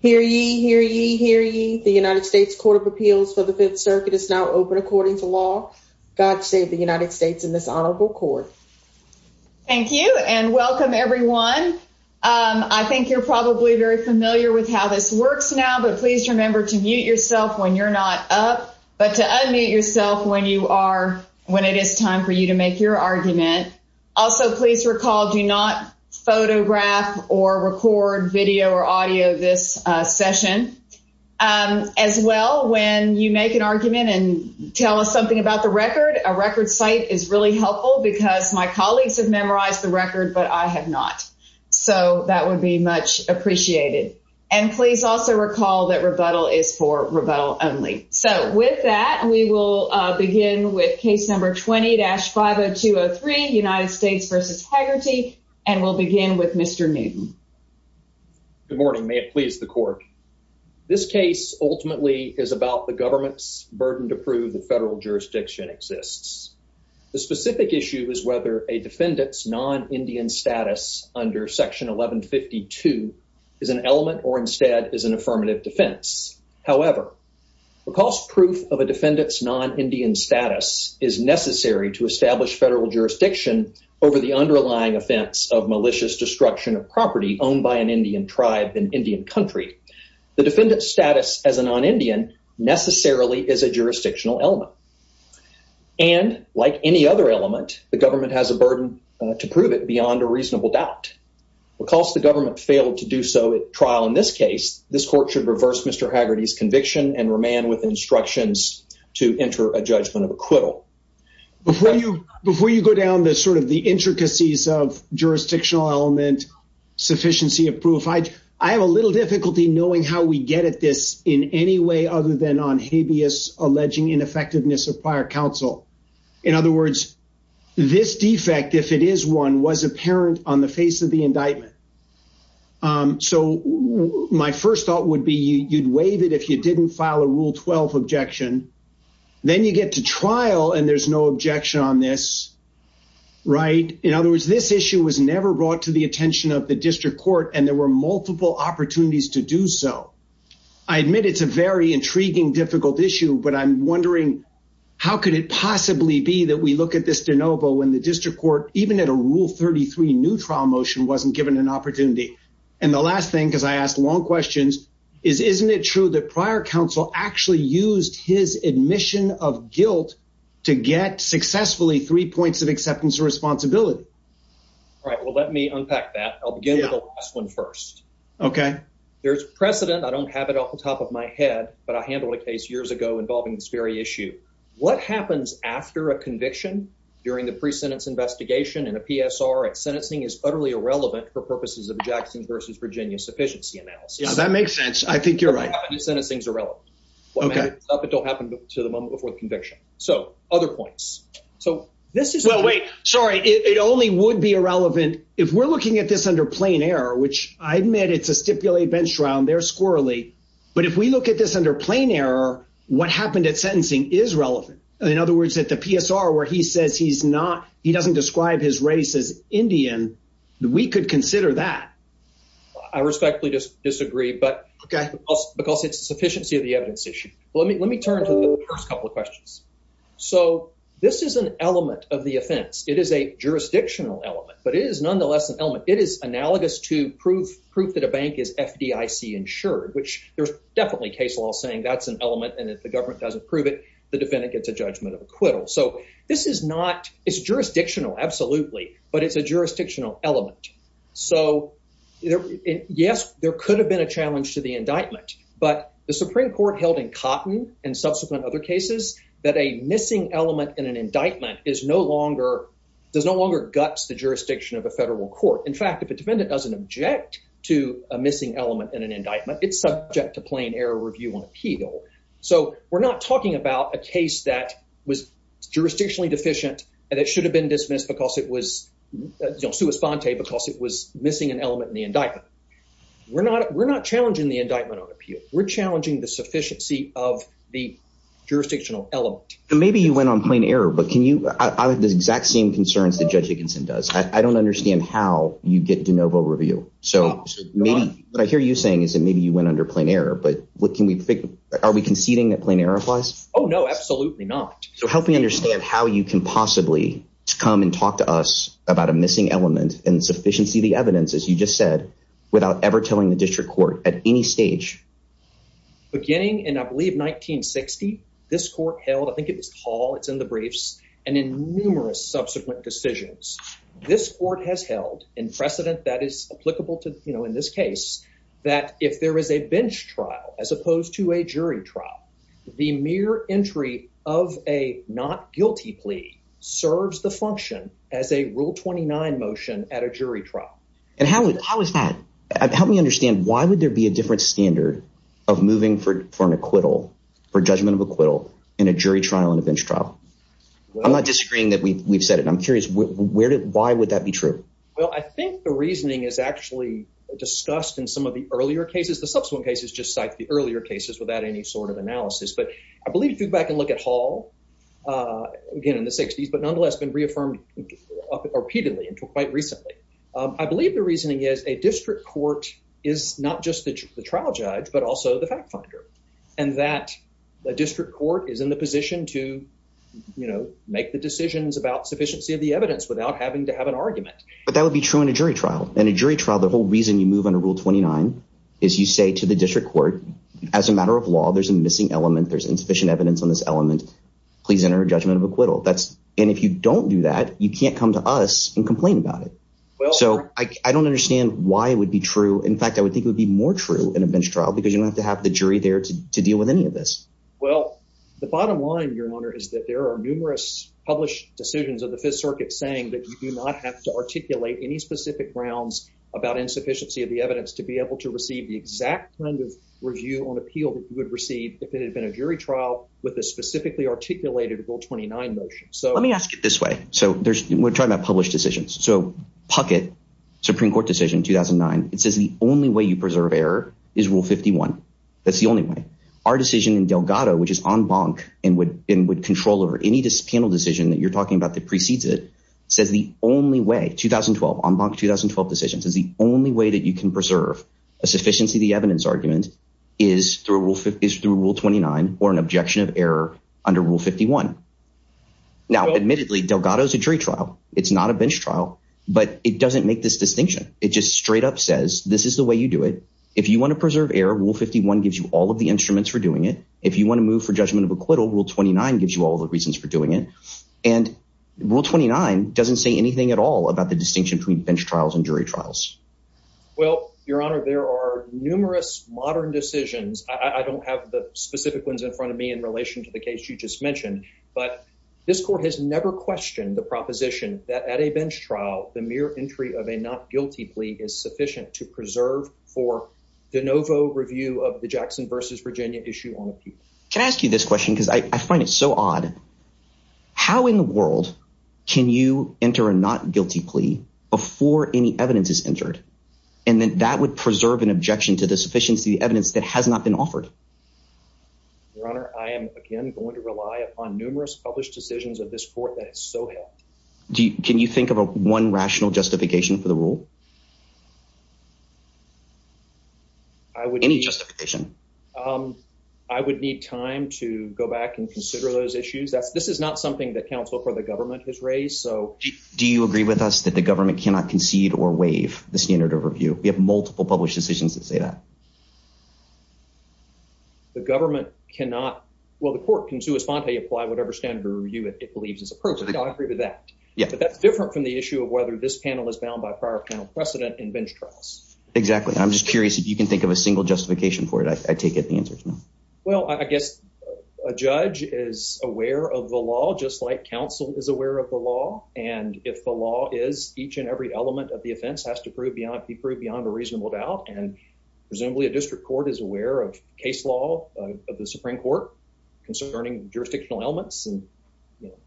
Hear ye, hear ye, hear ye. The United States Court of Appeals for the Fifth Circuit is now open according to law. God save the United States in this honorable court. Thank you and welcome everyone. I think you're probably very familiar with how this works now but please remember to mute yourself when you're not up but to unmute yourself when you are when it is time for you to make your argument. Also please recall do not photograph or record video or audio this session. As well when you make an argument and tell us something about the record, a record site is really helpful because my colleagues have memorized the record but I have not. So that would be much appreciated and please also recall that rebuttal is for rebuttal only. So with that we will begin with case number 20-50203 United States v. Haggerty and we'll begin with Mr. Newton. Good morning, may it please the court. This case ultimately is about the government's burden to prove the federal jurisdiction exists. The specific issue is whether a defendant's non-Indian status under section 1152 is an element or instead is an affirmative defense. However, the cost proof of a defendant's non-Indian status is necessary to establish federal jurisdiction over the underlying offense of malicious destruction of property owned by an Indian tribe in Indian country. The defendant's status as a non-Indian necessarily is a jurisdictional element and like any other element the government has a burden to prove it beyond a reasonable doubt. Because the government failed to do so at trial in this case this court should reverse Mr. Haggerty's conviction and remain with instructions to enter a judgment of acquittal. Before you before you go down the sort of the intricacies of jurisdictional element sufficiency of proof, I have a little difficulty knowing how we get at this in any way other than on habeas alleging ineffectiveness of prior counsel. In other words, this defect if it is one was apparent on the face of the indictment. So my first thought would be you'd if you didn't file a rule 12 objection then you get to trial and there's no objection on this, right? In other words, this issue was never brought to the attention of the district court and there were multiple opportunities to do so. I admit it's a very intriguing difficult issue but I'm wondering how could it possibly be that we look at this de novo when the district court even at a rule 33 new trial motion wasn't given an opportunity. And the last thing because I asked long questions is isn't it true that prior counsel actually used his admission of guilt to get successfully three points of acceptance of responsibility? All right, well let me unpack that. I'll begin with the last one first. Okay. There's precedent, I don't have it off the top of my head, but I handled a case years ago involving this very issue. What happens after a conviction during the pre-sentence investigation in a PSR if sentencing is utterly irrelevant for That makes sense. I think you're right. If sentencing is irrelevant. Okay. It don't happen to the moment before the conviction. So other points. So this is well wait sorry it only would be irrelevant if we're looking at this under plain error which I admit it's a stipulated bench trial and they're squirrelly but if we look at this under plain error what happened at sentencing is relevant. In other words, at the PSR where he says he's not he doesn't describe his race as Indian we could consider that. I respectfully just disagree but okay because it's the sufficiency of the evidence issue. Let me let me turn to the first couple of questions. So this is an element of the offense. It is a jurisdictional element but it is nonetheless an element. It is analogous to proof that a bank is FDIC insured which there's definitely case law saying that's an element and if the government doesn't prove it the defendant gets a judgment of acquittal. So this is not it's jurisdictional absolutely but it's a jurisdictional element. So yes there could have been a challenge to the indictment but the Supreme Court held in Cotton and subsequent other cases that a missing element in an indictment is no longer does no longer guts the jurisdiction of a federal court. In fact if a defendant doesn't object to a missing element in an indictment it's subject to plain error review on appeal. So we're not talking about a case that was it was because it was missing an element in the indictment. We're not we're not challenging the indictment on appeal. We're challenging the sufficiency of the jurisdictional element. Maybe you went on plain error but can you I have the exact same concerns that Judge Dickinson does. I don't understand how you get de novo review. So maybe what I hear you saying is that maybe you went under plain error but what can we figure are we conceding that plain error applies? Oh no absolutely not. So help me understand how you can possibly come and talk to us about a missing element and sufficiency the evidence as you just said without ever telling the district court at any stage. Beginning in I believe 1960 this court held I think it was tall it's in the briefs and in numerous subsequent decisions this court has held in precedent that is applicable to you know in this case that if there is a bench trial as opposed to a jury trial the mere entry of a not guilty plea serves the function as a rule 29 motion at a jury trial. And how would how is that help me understand why would there be a different standard of moving for for an acquittal for judgment of acquittal in a jury trial and a bench trial? I'm not disagreeing that we we've said it I'm curious where did why would that be true? Well I think the reasoning is actually discussed in some of the earlier cases subsequent cases just cite the earlier cases without any sort of analysis but I believe if you go back and look at Hall again in the 60s but nonetheless been reaffirmed repeatedly until quite recently. I believe the reasoning is a district court is not just the trial judge but also the fact finder and that the district court is in the position to you know make the decisions about sufficiency of the evidence without having to have an argument. But that would be true in a jury trial in a jury trial the whole reason you move under rule 29 is you say to the district court as a matter of law there's a missing element there's insufficient evidence on this element please enter a judgment of acquittal that's and if you don't do that you can't come to us and complain about it. So I don't understand why it would be true in fact I would think it would be more true in a bench trial because you don't have to have the jury there to to deal with any of this. Well the bottom line your honor is that there are numerous published decisions of the fifth circuit saying that you do not have to evidence to be able to receive the exact kind of review on appeal that you would receive if it had been a jury trial with a specifically articulated rule 29 motion. So let me ask it this way so there's we're talking about published decisions so Puckett supreme court decision 2009 it says the only way you preserve error is rule 51 that's the only way. Our decision in Delgado which is en banc and would and would control over any panel decision that you're talking about that precedes it says the only way 2012 en banc 2012 decisions is the only way that you can preserve a sufficiency the evidence argument is through rule is through rule 29 or an objection of error under rule 51. Now admittedly Delgado is a jury trial it's not a bench trial but it doesn't make this distinction it just straight up says this is the way you do it if you want to preserve error rule 51 gives you all of the instruments for doing it if you want to move for judgment of acquittal rule 29 gives you all the reasons for doing it and rule 29 doesn't say anything at all about the distinction between bench trials and jury trials. Well your honor there are numerous modern decisions I don't have the specific ones in front of me in relation to the case you just mentioned but this court has never questioned the proposition that at a bench trial the mere entry of a not guilty plea is sufficient to preserve for de novo review of the Jackson versus Virginia issue on appeal. Can I ask you this question because I find it so odd how in the world can you enter a not guilty plea before any evidence is entered and then that would preserve an objection to the sufficiency of the evidence that has not been offered? Your honor I am again going to rely upon numerous published decisions of this court that is so helpful. Can you think of a one rational justification for the rule? Any justification? I would need time to go back and consider those issues that's this is not something that counsel for the government has raised so do you agree with us that the government cannot concede or waive the standard overview? We have multiple published decisions that say that. The government cannot well the court can sui sponte apply whatever standard review it believes is appropriate. I agree with that yeah but that's different from the issue of whether this panel is bound by prior panel precedent in bench trials. Exactly I'm just curious if you can think of a single justification for it I take it the answer is no. Well I guess a judge is aware of the law just like counsel is aware of the law and if the law is each and every element of the offense has to prove beyond be proved beyond a reasonable doubt and presumably a district court is aware of case law of the Supreme Court concerning jurisdictional elements and you know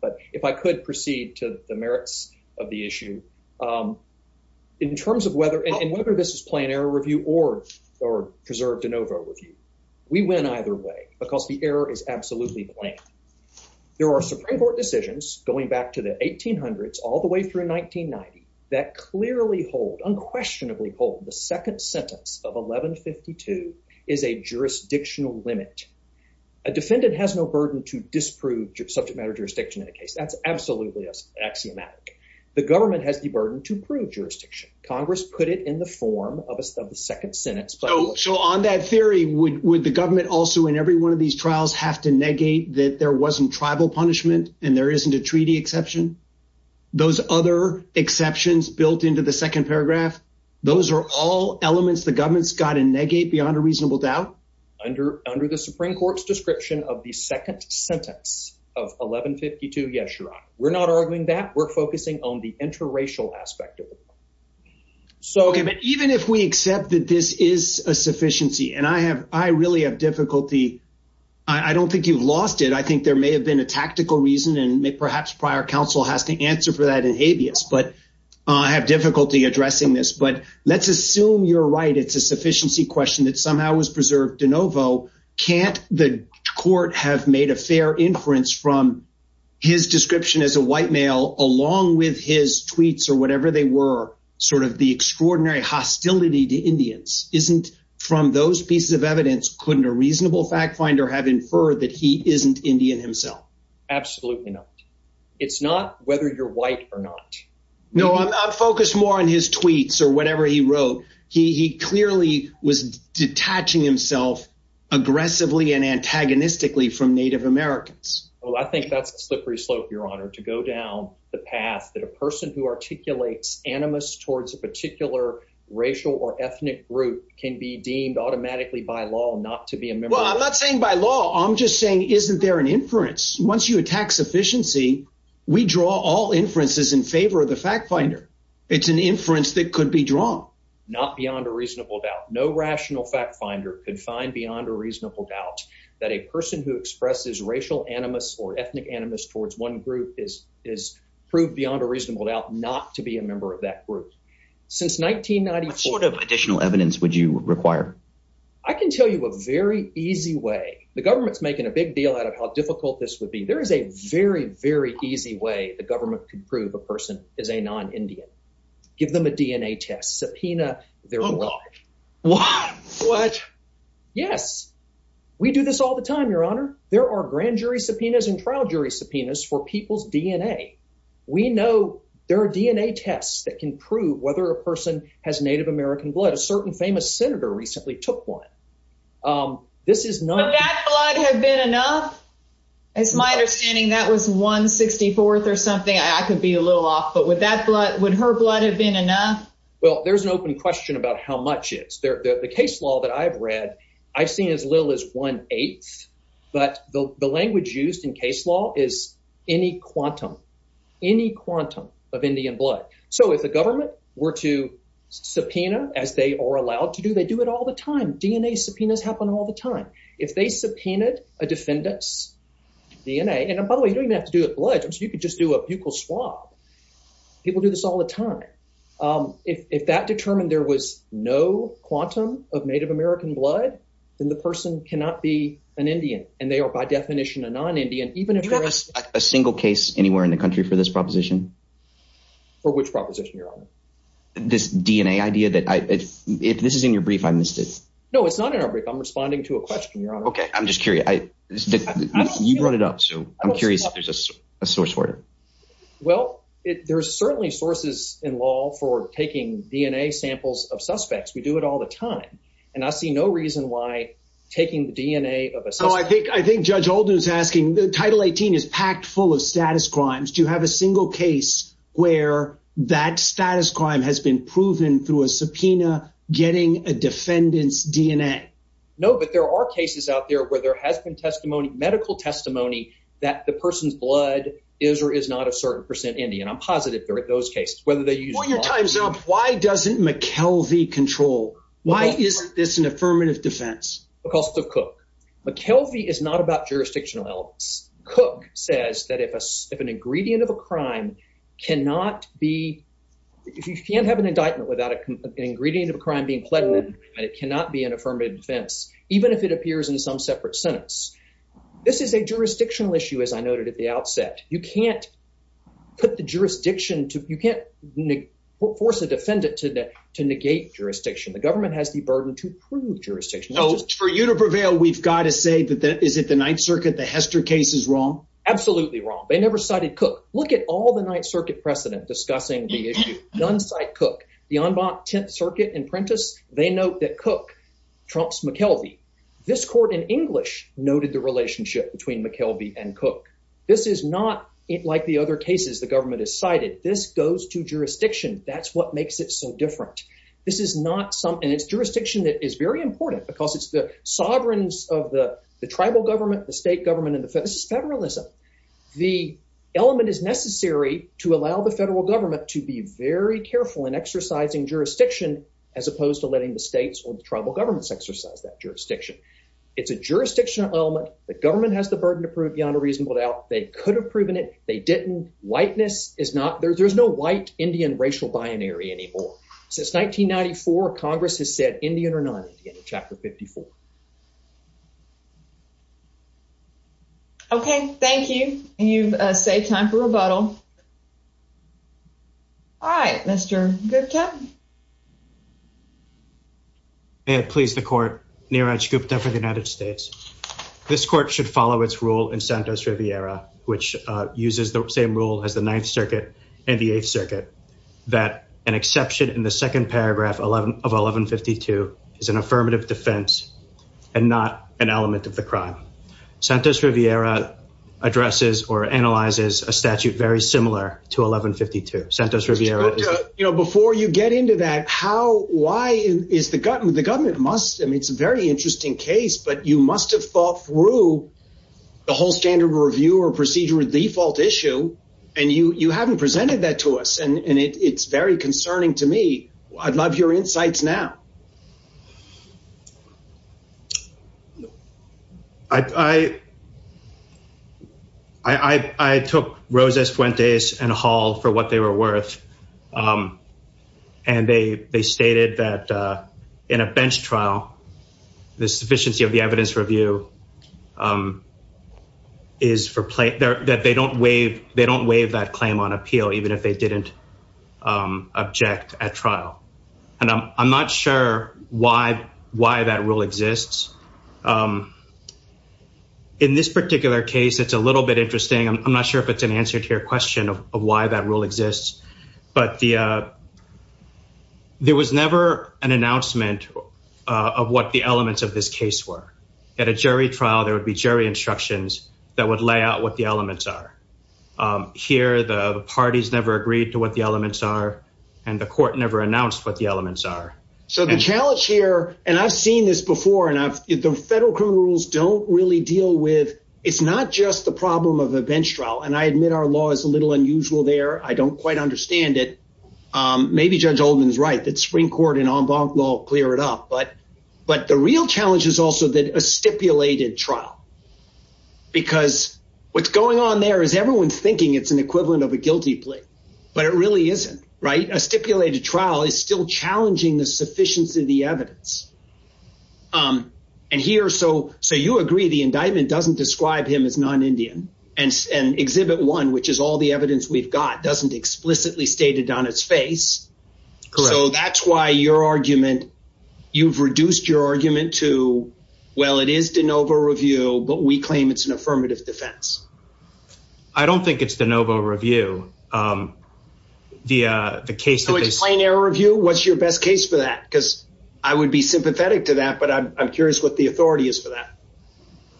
but if I could proceed to the merits of the issue um in terms of whether and whether this is plain error review or or preserved de novo review we win either way because the error is absolutely plain. There are Supreme Court decisions going back to the 1800s all the way through 1990 that clearly hold unquestionably hold the second sentence of 1152 is a jurisdictional limit. A defendant has no burden to disprove subject matter jurisdiction in a case that's absolutely axiomatic. The government has the burden to prove jurisdiction. Congress put it in the form of a second sentence. So on that theory would would the government also in every one of these trials have to negate that there wasn't tribal punishment and there isn't a treaty exception? Those other exceptions built into the second paragraph those are all elements the government's got to negate beyond a reasonable doubt under under the Supreme Court's description of the second sentence of 1152 yes your honor. We're not arguing that we're focusing on the interracial aspect of it. So okay but even if we accept that this is a sufficiency and I have I really have difficulty I don't think you've lost it I think there may have been a tactical reason and perhaps prior counsel has to answer for that in habeas but I have difficulty addressing this but let's assume you're right it's a sufficiency question that somehow was preserved de novo can't the court have made a fair inference from his description as a white male along with his tweets or whatever they were sort of the extraordinary hostility to Indians isn't from those pieces of evidence couldn't a reasonable fact finder have inferred that he isn't Indian himself? Absolutely not. It's not whether you're white or not. No I'm focused more on his tweets or whatever he wrote he he clearly was detaching himself aggressively and antagonistically from Native Americans. Well I think that's a slippery slope your honor to go down the path that a person who expresses racial animus towards a particular racial or ethnic group can be deemed automatically by law not to be a member well I'm not saying by law I'm just saying isn't there an inference once you attack sufficiency we draw all inferences in favor of the fact finder it's an inference that could be drawn not beyond a reasonable doubt no rational fact finder could find beyond a reasonable doubt that a person who expresses racial animus or ethnic animus towards one group is is proved beyond a reasonable doubt not to be a member of that group since 1994. What sort of additional evidence would you require? I can tell you a very easy way the government's making a big deal out of how difficult this would be there is a very very easy way the government could prove a person is a non-Indian give them a DNA test subpoena their blood what what yes we do this all the time your honor there are grand jury subpoenas and trial jury subpoenas for people's DNA we know there are DNA tests that can prove whether a person has Native American blood a certain famous senator recently took one um this is not that blood have been enough it's my understanding that was 1 64th or something I could be a little off but with that blood would her blood have been enough well there's an open question about how much is there the case law that I've read I've seen as little as one eighth but the language used in case law is any quantum any quantum of Indian blood so if the government were to subpoena as they are allowed to do they do it all the time DNA subpoenas happen all the time if they subpoenaed a defendant's DNA and by the way you don't have to do it blood you could just do a buccal swab people do this all the time if if that determined there was no quantum of Native American blood then the person cannot be an Indian and they are by definition a non-Indian even if there is a single case anywhere in the country for this proposition for which proposition your honor this DNA idea that I if this is in your brief I missed it no it's not in our brief I'm responding to a question your honor okay I'm just curious I you brought it up so I'm curious if there's a source order well it there's certainly sources in law for taking DNA samples of suspects we do it all the time and I see no reason why taking the DNA of a so I think I think Judge Holden is asking the title 18 is packed full of status crimes do you have a single case where that status crime has been proven through a subpoena getting a defendant's DNA no but there are cases out there where there has been testimony medical testimony that the person's blood is or is not a certain percent Indian I'm positive there are those cases whether they use your time's up why doesn't McKelvey control why isn't this an affirmative defense because the cook McKelvey is not about jurisdictional elements cook says that if a if an ingredient of a crime cannot be if you can't have an indictment without a ingredient of a crime being pledged and it cannot be an affirmative defense even if it appears in some separate sentence this is a jurisdictional issue as I noted at the outset you can't put the jurisdiction to you can't force a defendant to negate jurisdiction the government has the burden to prove jurisdiction so for you to prevail we've got to say that that is it the ninth circuit the Hester case is wrong absolutely wrong they never cited cook look at all the ninth circuit precedent discussing the issue non-site cook the en banc tenth circuit and Prentice they note that cook trumps McKelvey this court in English noted the relationship between McKelvey and cook this is not like the other cases the goes to jurisdiction that's what makes it so different this is not something it's jurisdiction that is very important because it's the sovereigns of the the tribal government the state government and the federalism the element is necessary to allow the federal government to be very careful in exercising jurisdiction as opposed to letting the states or the tribal governments exercise that jurisdiction it's a jurisdictional element the government has the burden to prove beyond a reasonable doubt they could have proven it they didn't white-ness is not there's no white Indian racial binary anymore since 1994 congress has said Indian or non-Indian in chapter 54 okay thank you you've saved time for rebuttal all right Mr. Gupta may it please the court Neeraj Gupta for the United States this court should follow its rule in Santos Riviera which uses the same rule as the 9th circuit and the 8th circuit that an exception in the second paragraph 11 of 1152 is an affirmative defense and not an element of the crime Santos Riviera addresses or analyzes a statute very similar to 1152 Santos Riviera you know before you get into that how why is the government the government must I mean it's a very interesting case but you must have thought through the whole standard review or procedure default issue and you you haven't presented that to us and and it's very concerning to me I'd love your insights now I took Rosas Fuentes and Hall for what they were worth and they stated that in a bench trial the sufficiency of the evidence review is for play there that they don't waive they don't waive that claim on appeal even if they didn't object at trial and I'm not sure why why that rule exists in this particular case it's a little bit interesting I'm not sure if it's an answer to your question of why that rule exists but the there was never an announcement of what the elements of this case were at a jury trial there would be jury instructions that would lay out what the elements are here the parties never agreed to what the elements are and the court never announced what the elements are so the challenge here and I've seen this before and I've the federal criminal rules don't really deal with it's not just the problem of a bench trial and I admit our law is a little unusual there I don't quite understand it maybe Judge Oldman's right that real challenge is also that a stipulated trial because what's going on there is everyone's thinking it's an equivalent of a guilty plea but it really isn't right a stipulated trial is still challenging the sufficiency of the evidence and here so so you agree the indictment doesn't describe him as non-Indian and exhibit one which is all the evidence we've got doesn't explicitly state it on its face so that's why your argument you've reduced your argument to well it is de novo review but we claim it's an affirmative defense I don't think it's de novo review the the case so it's plain error review what's your best case for that because I would be sympathetic to that but I'm curious what the authority is for that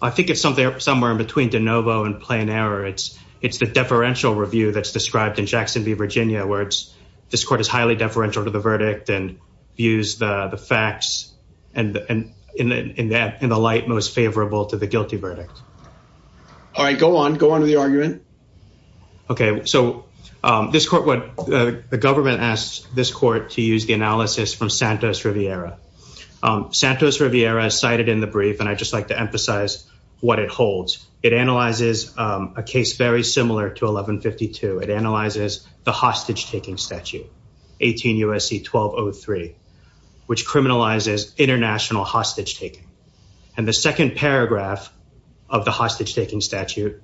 I think it's something up somewhere in between de novo and plain error it's it's the deferential review that's described in Jackson v Virginia where it's this court is highly deferential to the verdict and views the the facts and and in that in the light most favorable to the guilty verdict all right go on go on to the argument okay so this court what the government asked this court to use the analysis from Santos Riviera Santos Riviera cited in the brief and I just like to emphasize what it holds it analyzes a case very similar to 1152 it is a case in which the defendant is charged with a crime of 18 U.S.C. 1203 which criminalizes international hostage taking and the second paragraph of the hostage taking statute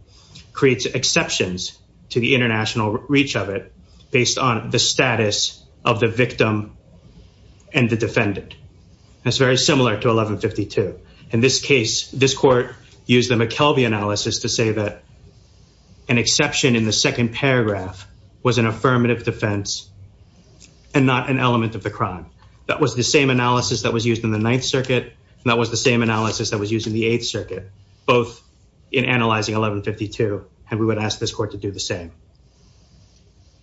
creates exceptions to the international reach of it based on the status of the victim and the defendant that's very similar to 1152 in this case this court used the McKelvey analysis to say that an exception in the second paragraph was an affirmative defense and not an element of the crime that was the same analysis that was used in the Ninth Circuit and that was the same analysis that was used in the Eighth Circuit both in analyzing 1152 and we would ask this court to do the same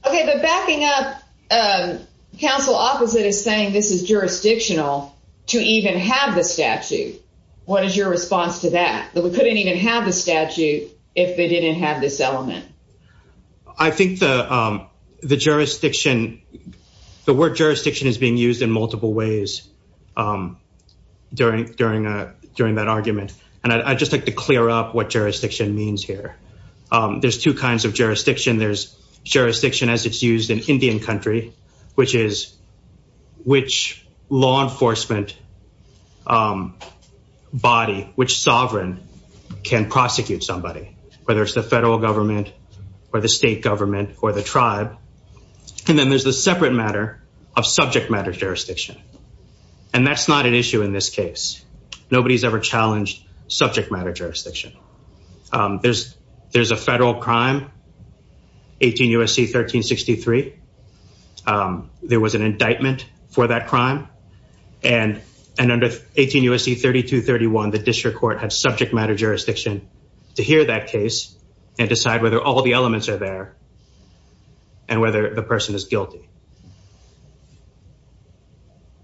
okay but backing up counsel opposite is saying this is jurisdictional to even have the statute what is your response to that that we couldn't even have the statute if they didn't have this element I think the the jurisdiction the word jurisdiction is being used in multiple ways during during a during that argument and I just like to clear up what jurisdiction means here there's two kinds of jurisdiction there's jurisdiction as it's used in Indian country which is which law enforcement body which sovereign can prosecute somebody whether it's the federal government or the state government or the tribe and then there's the separate matter of subject matter jurisdiction and that's not an issue in this case nobody's ever challenged subject matter jurisdiction there's there's a federal crime 18 U.S.C. 1363 there was an indictment for that crime and and under 18 U.S.C. 3231 the district court had jurisdiction to hear that case and decide whether all the elements are there and whether the person is guilty.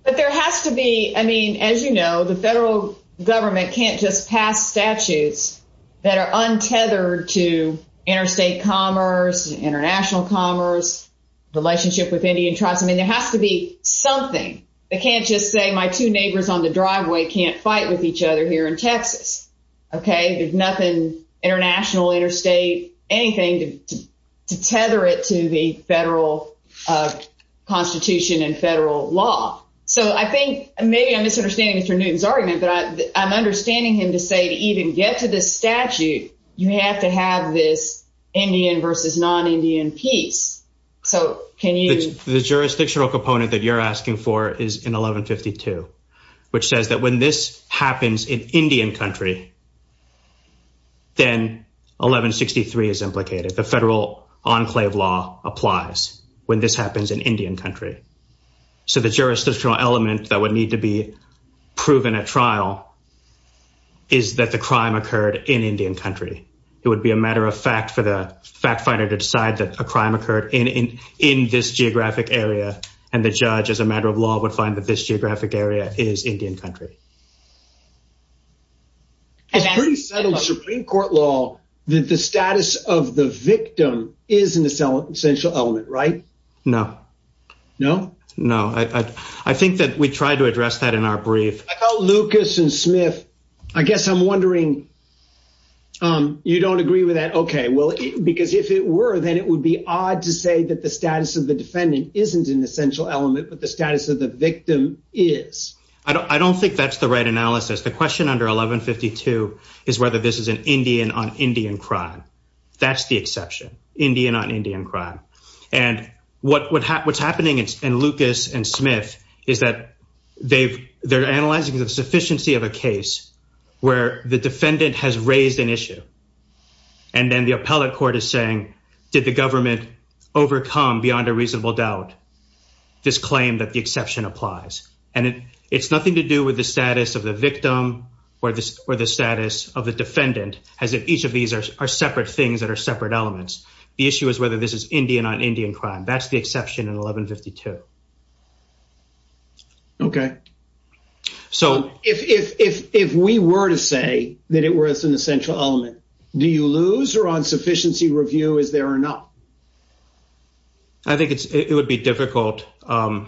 But there has to be I mean as you know the federal government can't just pass statutes that are untethered to interstate commerce international commerce relationship with Indian tribes I mean there has to be something they can't just say my two neighbors on the driveway can't fight with each other here in Texas okay there's nothing international interstate anything to tether it to the federal constitution and federal law so I think maybe I'm misunderstanding Mr. Newton's argument but I'm understanding him to say to even get to this statute you have to have this Indian versus non-Indian peace so can you the jurisdictional component that you're asking for is in 1152 which says that when this happens in Indian country then 1163 is implicated the federal enclave law applies when this happens in Indian country so the jurisdictional element that would need to be proven at trial is that the crime occurred in Indian country it would be a matter of fact for the fact finder to decide that a crime occurred in in in this geographic area and the judge as a geographic area is Indian country it's pretty subtle supreme court law that the status of the victim is an essential element right no no no I I think that we tried to address that in our brief I called Lucas and Smith I guess I'm wondering um you don't agree with that okay well because if it were then it would be odd to say that the status of the defendant isn't an essential element but the status of the victim is I don't think that's the right analysis the question under 1152 is whether this is an Indian on Indian crime that's the exception Indian on Indian crime and what would happen what's happening in Lucas and Smith is that they've they're analyzing the sufficiency of a case where the defendant has raised an issue and then the appellate court is saying did the government overcome beyond a reasonable doubt this claim that the exception applies and it it's nothing to do with the status of the victim or this or the status of the defendant as if each of these are separate things that are separate elements the issue is whether this is Indian on Indian crime that's the exception in 1152 okay so if if if we were to say that it was an essential element do you lose or on sufficiency review is there or not I think it's it would be difficult the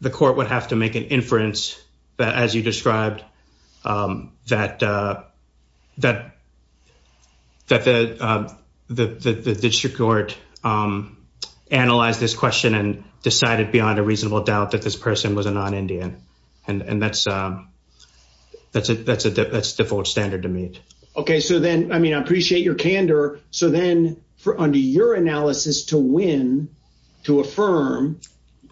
the court would have to make an inference that as you described that that that the the district court analyzed this question and decided beyond a reasonable doubt that this person was a non-indian and and that's that's a that's a that's default standard to meet okay so then I to affirm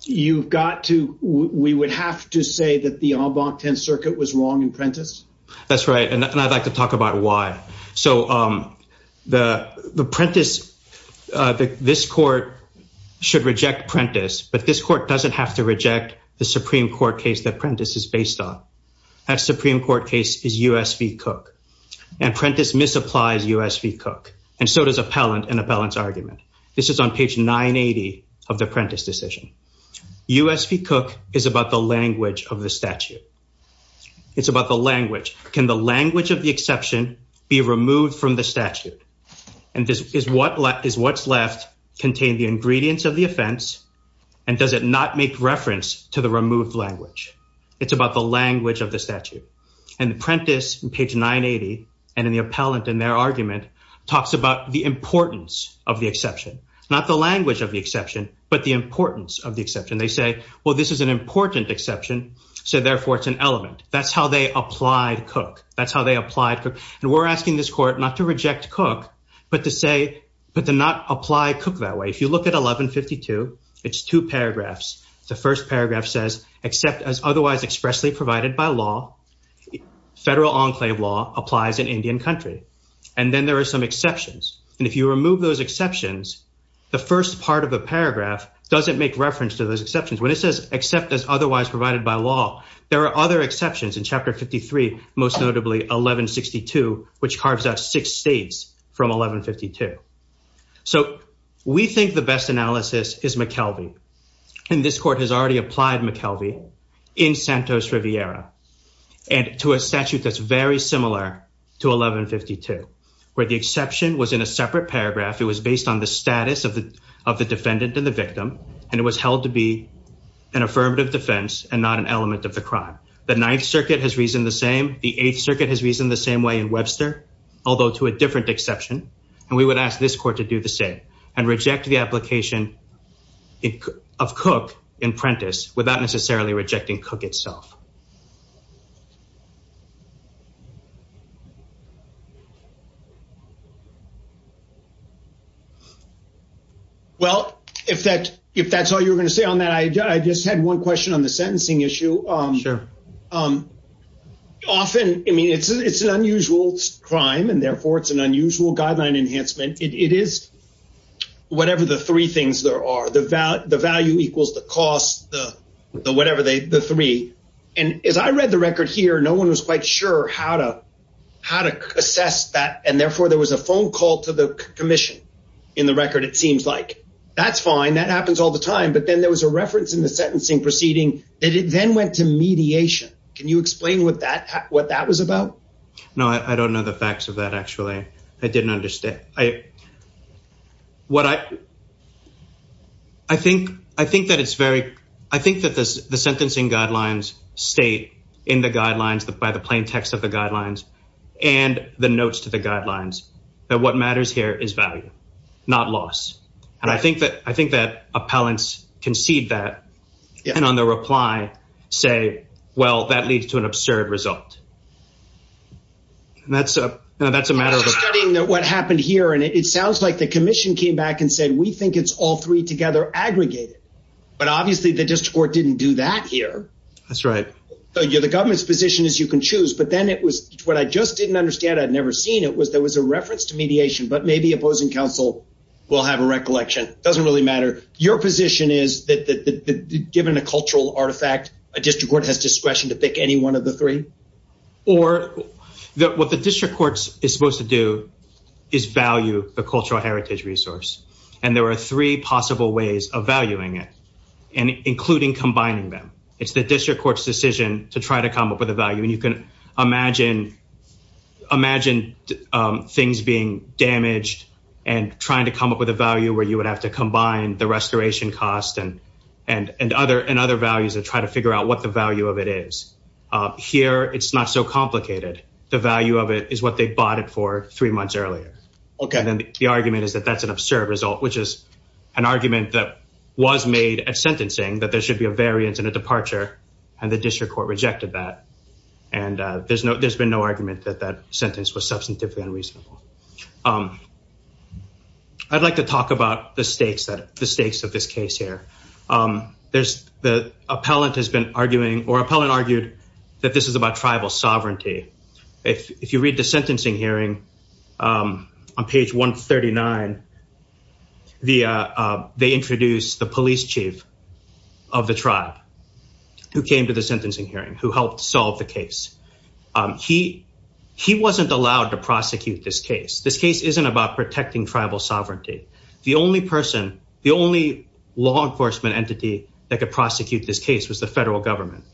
you've got to we would have to say that the en banc 10 circuit was wrong in Prentiss that's right and I'd like to talk about why so the the Prentiss this court should reject Prentiss but this court doesn't have to reject the Supreme Court case that Prentiss is based on that Supreme Court case is US v Cook and Prentiss misapplies US v Cook and so does appellant and so does appellant and so does appellant and Prentiss and Prentiss is based on Prentiss and Prentiss is based on pact 980 of Prentiss decision US v Cook is about the language of the statue it's about the language can the language of the exception be removed from the statute and this is what is what's left contain the ingredients of the offense and does it not make reference to the removed language it's about the language of the statute and the Prentiss page 980 and in the appellant in their argument talks about the importance of the exception not the language of the exception but the importance of the exception they say well this is an important exception so therefore it's an element that's how they applied cook that's how they applied cook and we're asking this court not to reject cook but to say but to not apply cook that way if you look at 1152 it's two paragraphs the first paragraph says except as otherwise expressly provided by law federal enclave law applies in Indian country and then there are some exceptions and if you remove those exceptions the first part of the paragraph doesn't make reference to those exceptions when it says except as otherwise provided by law there are other exceptions in chapter 53 most notably 1162 which carves out six states from 1152 so we think the best analysis is McKelvey and this court has already applied McKelvey in Santos Riviera and to a statute that's very similar to 1152 where the exception was in a separate paragraph it was based on the status of the of the defendant and the victim and it was held to be an affirmative defense and not an element of the crime the Ninth Circuit has reasoned the same the Eighth Circuit has reasoned the same way in Webster although to a different exception and we would ask this court to do the same and reject the application of cook in Prentice without necessarily rejecting cook itself well if that if that's all you're gonna say on that I just had one question on the sentencing issue um often I mean it's it's an unusual crime and therefore it's an unusual guideline enhancement it is whatever the three things there are the value the value equals the cost the whatever they the three and as I read the record here no one was quite sure how to how to assess that and therefore there was a phone call to the Commission in the record it seems like that's fine that happens all the time but then there was a reference in the sentencing proceeding that it then went to mediation can you explain what that what that was about no I don't know the facts of that actually I didn't understand I what I I think I think that it's very I think that this the sentencing guidelines state in the guidelines that by the plaintext of the guidelines and the notes to the guidelines that what matters here is value not loss and I think that I think that appellants concede that and on the reply say well that leads to an absurd result and that's a that's a matter of studying that what happened here and it sounds like the Commission came back and said we think it's all three together aggregated but obviously the district court didn't do that here that's right so you're the government's position is you can choose but then it was what I just didn't understand I'd never seen it was there was a reference to mediation but maybe opposing counsel will have a recollection doesn't really matter your position is that the given a cultural artifact a district court has discretion to pick any one of the three or that what the district courts is supposed to do is value the cultural heritage resource and there are three possible ways of valuing it and including combining them it's the district courts decision to try to come up with a value and you can imagine imagine things being damaged and trying to come up with a value where you would have to combine the restoration cost and and and other and other values and try to figure out what the value of it is here it's not so complicated the value of it is what they bought it for three months earlier okay then the argument is that that's an absurd result which is an argument that was made at sentencing that there should be a variance in a departure and the district court rejected that and there's no there's been no argument that that sentence was substantively unreasonable I'd like to talk about the stakes that the stakes of this case here there's the appellant has been arguing or appellant argued that this is about tribal sovereignty if you read the sentencing hearing on page 139 the they introduced the police chief of the tribe who came to the sentencing hearing who helped solve the case he he wasn't allowed to prosecute this case this case isn't about protecting tribal sovereignty the only person the only law enforcement entity that could prosecute this case was the federal government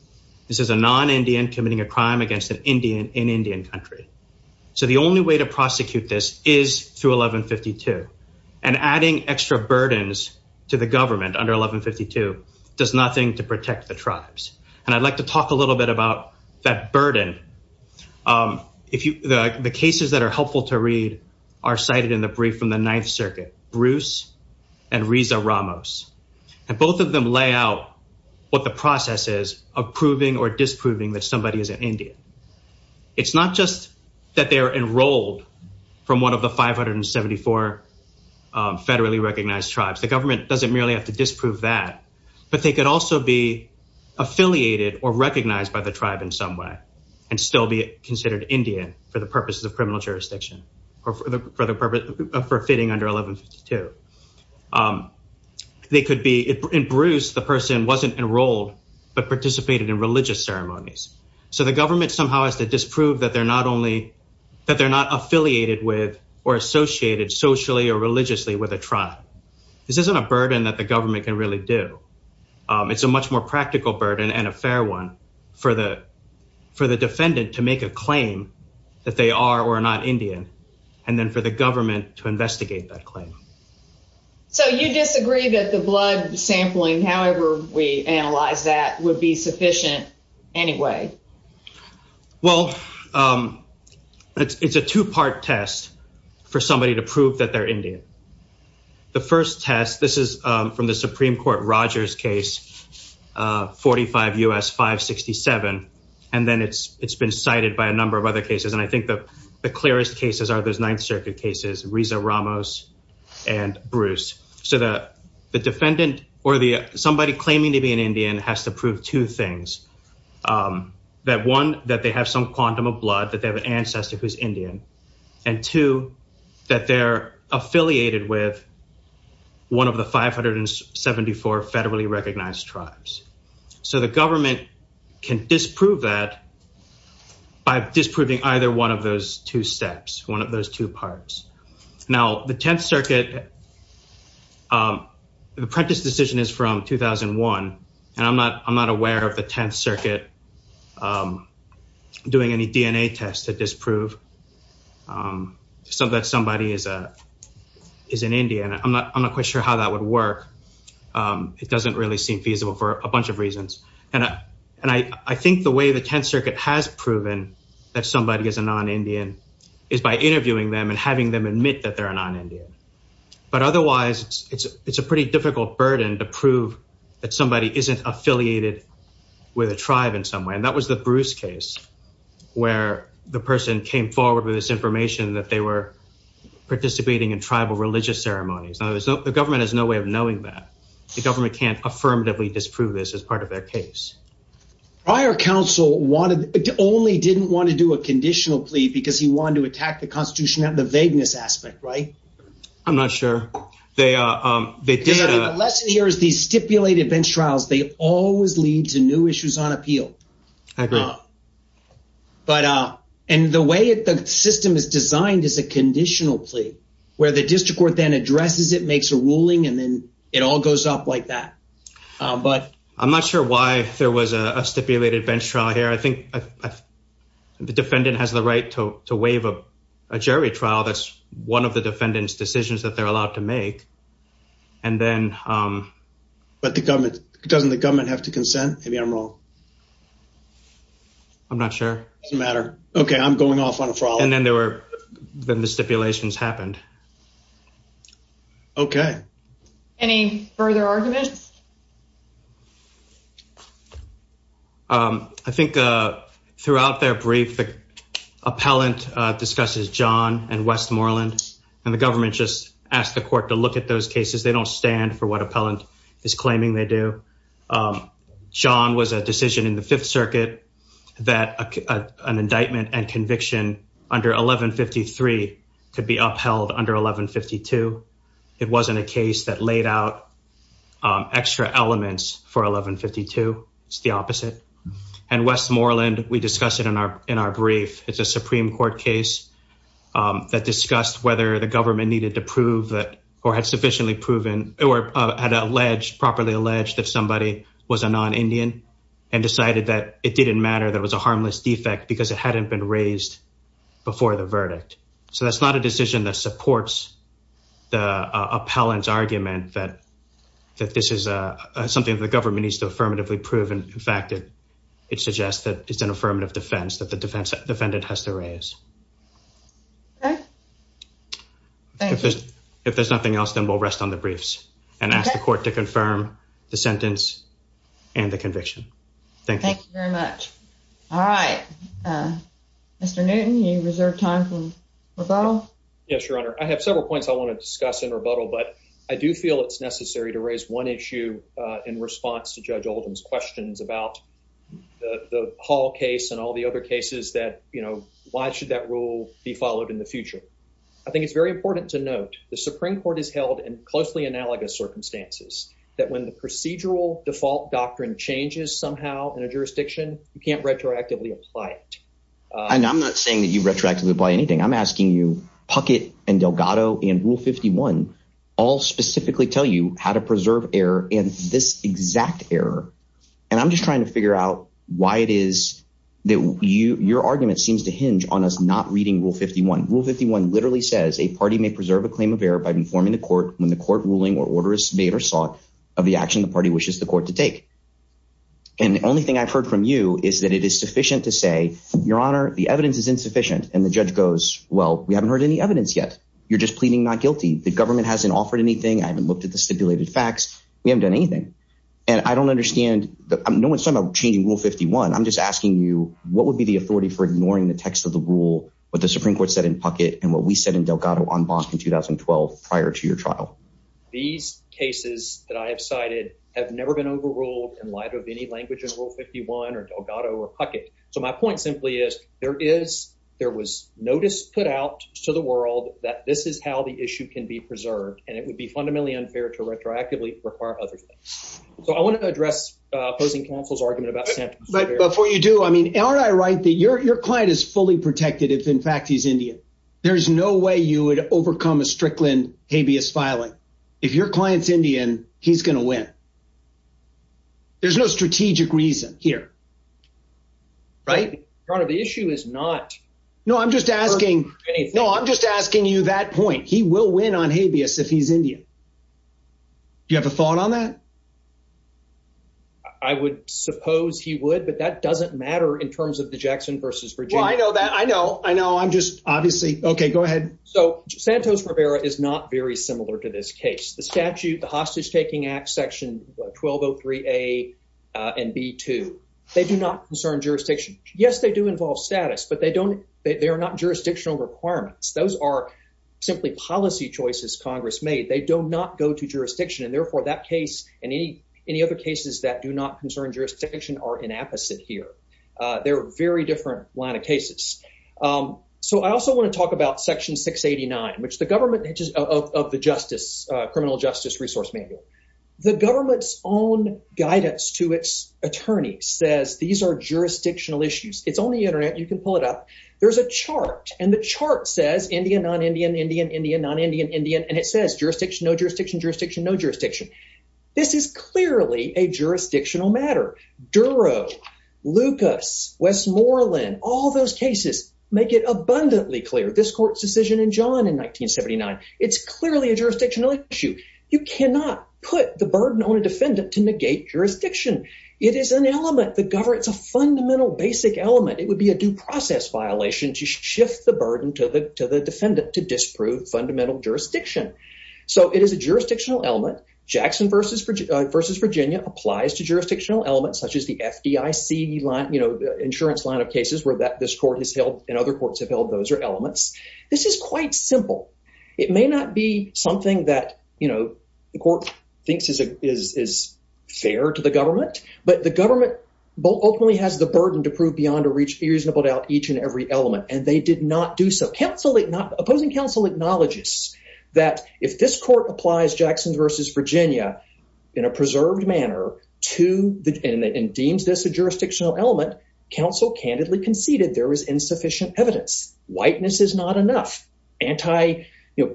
this is a non-indian committing a crime against an Indian in Indian country so the only way to prosecute this is through 1152 and adding extra burdens to the government under 1152 does nothing to protect the tribes and I'd like to talk a little bit about that burden if you the cases that are helpful to read are cited in the brief from the Ninth Circuit Bruce and Risa Ramos and both of them lay out what the process is approving or disproving that somebody is an Indian it's not just that they are enrolled from one of the 574 federally recognized tribes the government doesn't merely have to disprove that but they could also be affiliated or recognized by the tribe in some way and still be considered Indian for the purposes of criminal jurisdiction or for the purpose of for fitting under 1152 they could be in Bruce the person wasn't enrolled but participated in religious ceremonies so the government somehow has to disprove that they're not only that they're not affiliated with or associated socially or religiously with a tribe this isn't a burden that the government can really do it's a much more practical burden and a for the defendant to make a claim that they are or are not Indian and then for the government to investigate that claim. So you disagree that the blood sampling however we analyze that would be sufficient anyway? Well it's a two-part test for somebody to prove that they're Indian the first test this is from the and then it's it's been cited by a number of other cases and I think that the clearest cases are those Ninth Circuit cases Risa Ramos and Bruce so that the defendant or the somebody claiming to be an Indian has to prove two things that one that they have some quantum of blood that they have an ancestor who's Indian and two that they're affiliated with one of the 574 federally recognized tribes so the government can disprove that by disproving either one of those two steps one of those two parts now the Tenth Circuit the Prentiss decision is from 2001 and I'm not I'm not aware of the Tenth Circuit doing any DNA tests to disprove so that somebody is a is an it doesn't really seem feasible for a bunch of reasons and I and I I think the way the Tenth Circuit has proven that somebody is a non-Indian is by interviewing them and having them admit that they're a non-Indian but otherwise it's it's a pretty difficult burden to prove that somebody isn't affiliated with a tribe in some way and that was the Bruce case where the person came forward with this information that they were participating in tribal religious ceremonies no there's no the government has no way of knowing that the government can't affirmatively disprove this as part of their case prior counsel wanted only didn't want to do a conditional plea because he wanted to attack the Constitution and the vagueness aspect right I'm not sure they are the lesson here is these stipulated bench trials they always lead to new issues on appeal I agree but uh and the way it the system is designed is a conditional plea where the district court then addresses it makes a ruling and then it all goes up like that but I'm not sure why there was a stipulated bench trial here I think the defendant has the right to waive a jury trial that's one of the defendants decisions that they're allowed to make and then but the government doesn't the government have to consent maybe I'm wrong I'm not sure no matter okay I'm stipulations happened okay any further arguments I think throughout their brief the appellant discusses John and Westmoreland and the government just asked the court to look at those cases they don't stand for what appellant is claiming they do John was a decision in the Fifth Circuit that an indictment and could be upheld under 1152 it wasn't a case that laid out extra elements for 1152 it's the opposite and Westmoreland we discussed it in our in our brief it's a Supreme Court case that discussed whether the government needed to prove that or had sufficiently proven or had alleged properly alleged that somebody was a non-indian and decided that it didn't matter that was a harmless defect because it hadn't been raised before the verdict so that's not a decision that supports the appellant's argument that that this is a something of the government needs to affirmatively proven in fact it it suggests that it's an affirmative defense that the defense defendant has to raise if there's nothing else then we'll rest on the briefs and ask the court to confirm the mr. Newton you reserve time from rebuttal yes your honor I have several points I want to discuss in rebuttal but I do feel it's necessary to raise one issue in response to judge Oldham's questions about the Hall case and all the other cases that you know why should that rule be followed in the future I think it's very important to note the Supreme Court is held in closely analogous circumstances that when the procedural default doctrine changes somehow in a jurisdiction you can't retroactively apply it and I'm not saying that you retroactively by anything I'm asking you Puckett and Delgado and rule 51 all specifically tell you how to preserve error in this exact error and I'm just trying to figure out why it is that you your argument seems to hinge on us not reading rule 51 rule 51 literally says a party may preserve a claim of error by informing the court when the court ruling or order is made or sought of the action the party wishes the court to make and the only thing I've heard from you is that it is sufficient to say your honor the evidence is insufficient and the judge goes well we haven't heard any evidence yet you're just pleading not guilty the government hasn't offered anything I haven't looked at the stipulated facts we haven't done anything and I don't understand that I'm no one's talking about changing rule 51 I'm just asking you what would be the authority for ignoring the text of the rule what the Supreme Court said in Puckett and what we said in Delgado on Boston 2012 prior to your trial these cases that I have cited have never been overruled in light of any language in rule 51 or Delgado or Puckett so my point simply is there is there was notice put out to the world that this is how the issue can be preserved and it would be fundamentally unfair to retroactively require other things so I want to address opposing counsel's argument about but before you do I mean aren't I right that your client is fully protected if in fact he's Indian there's no way you would overcome a Strickland habeas filing if your clients Indian he's gonna win there's no strategic reason here right part of the issue is not no I'm just asking no I'm just asking you that point he will win on habeas if he's Indian do you have a thought on that I would suppose he would but that doesn't matter in terms of the Jackson versus for joy I know that I know I know I'm just obviously okay go similar to this case the statute the hostage-taking Act section 1203 a and B to they do not concern jurisdiction yes they do involve status but they don't they are not jurisdictional requirements those are simply policy choices Congress made they do not go to jurisdiction and therefore that case and any any other cases that do not concern jurisdiction are inapplicable here they're very different line of cases so I also want to talk about section 689 which the government of the justice criminal justice resource manual the government's own guidance to its attorney says these are jurisdictional issues it's on the internet you can pull it up there's a chart and the chart says Indian non Indian Indian Indian non-Indian Indian and it says jurisdiction no jurisdiction jurisdiction no jurisdiction this is clearly a jurisdictional matter Duro Lucas Westmoreland all those cases make it abundantly clear this court's decision in John in 1979 it's clearly a jurisdictional issue you cannot put the burden on a defendant to negate jurisdiction it is an element the government's a fundamental basic element it would be a due process violation to shift the burden to the to the defendant to disprove fundamental jurisdiction so it is a jurisdictional element Jackson versus Virginia versus Virginia applies to jurisdictional elements such as the FDIC line you know the insurance line of cases where that this court has held and other courts have held those are jurisdictional elements this is quite simple it may not be something that you know the court thinks is a is fair to the government but the government ultimately has the burden to prove beyond a reach be reasonable doubt each and every element and they did not do so counsel it not opposing counsel acknowledges that if this court applies Jackson versus Virginia in a preserved manner to the end and deems this a jurisdictional element counsel candidly conceded there is insufficient evidence whiteness is not enough anti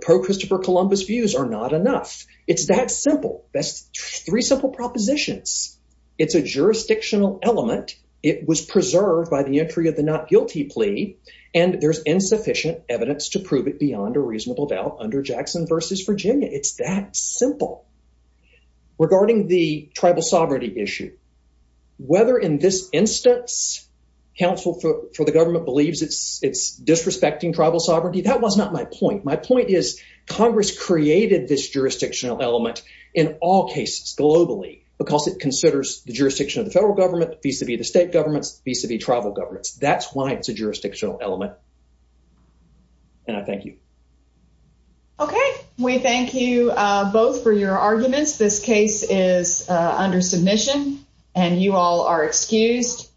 pro-Christopher Columbus views are not enough it's that simple best three simple propositions it's a jurisdictional element it was preserved by the entry of the not guilty plea and there's insufficient evidence to prove it beyond a reasonable doubt under Jackson versus Virginia it's that simple regarding the tribal sovereignty issue whether in this instance counsel for the government believes it's it's disrespecting tribal sovereignty that was not my point my point is Congress created this jurisdictional element in all cases globally because it considers the jurisdiction of the federal government visa be the state governments visa be tribal governments that's why it's a jurisdictional element and I thank you okay we thank you both for your arguments this case is under submission and you all are excused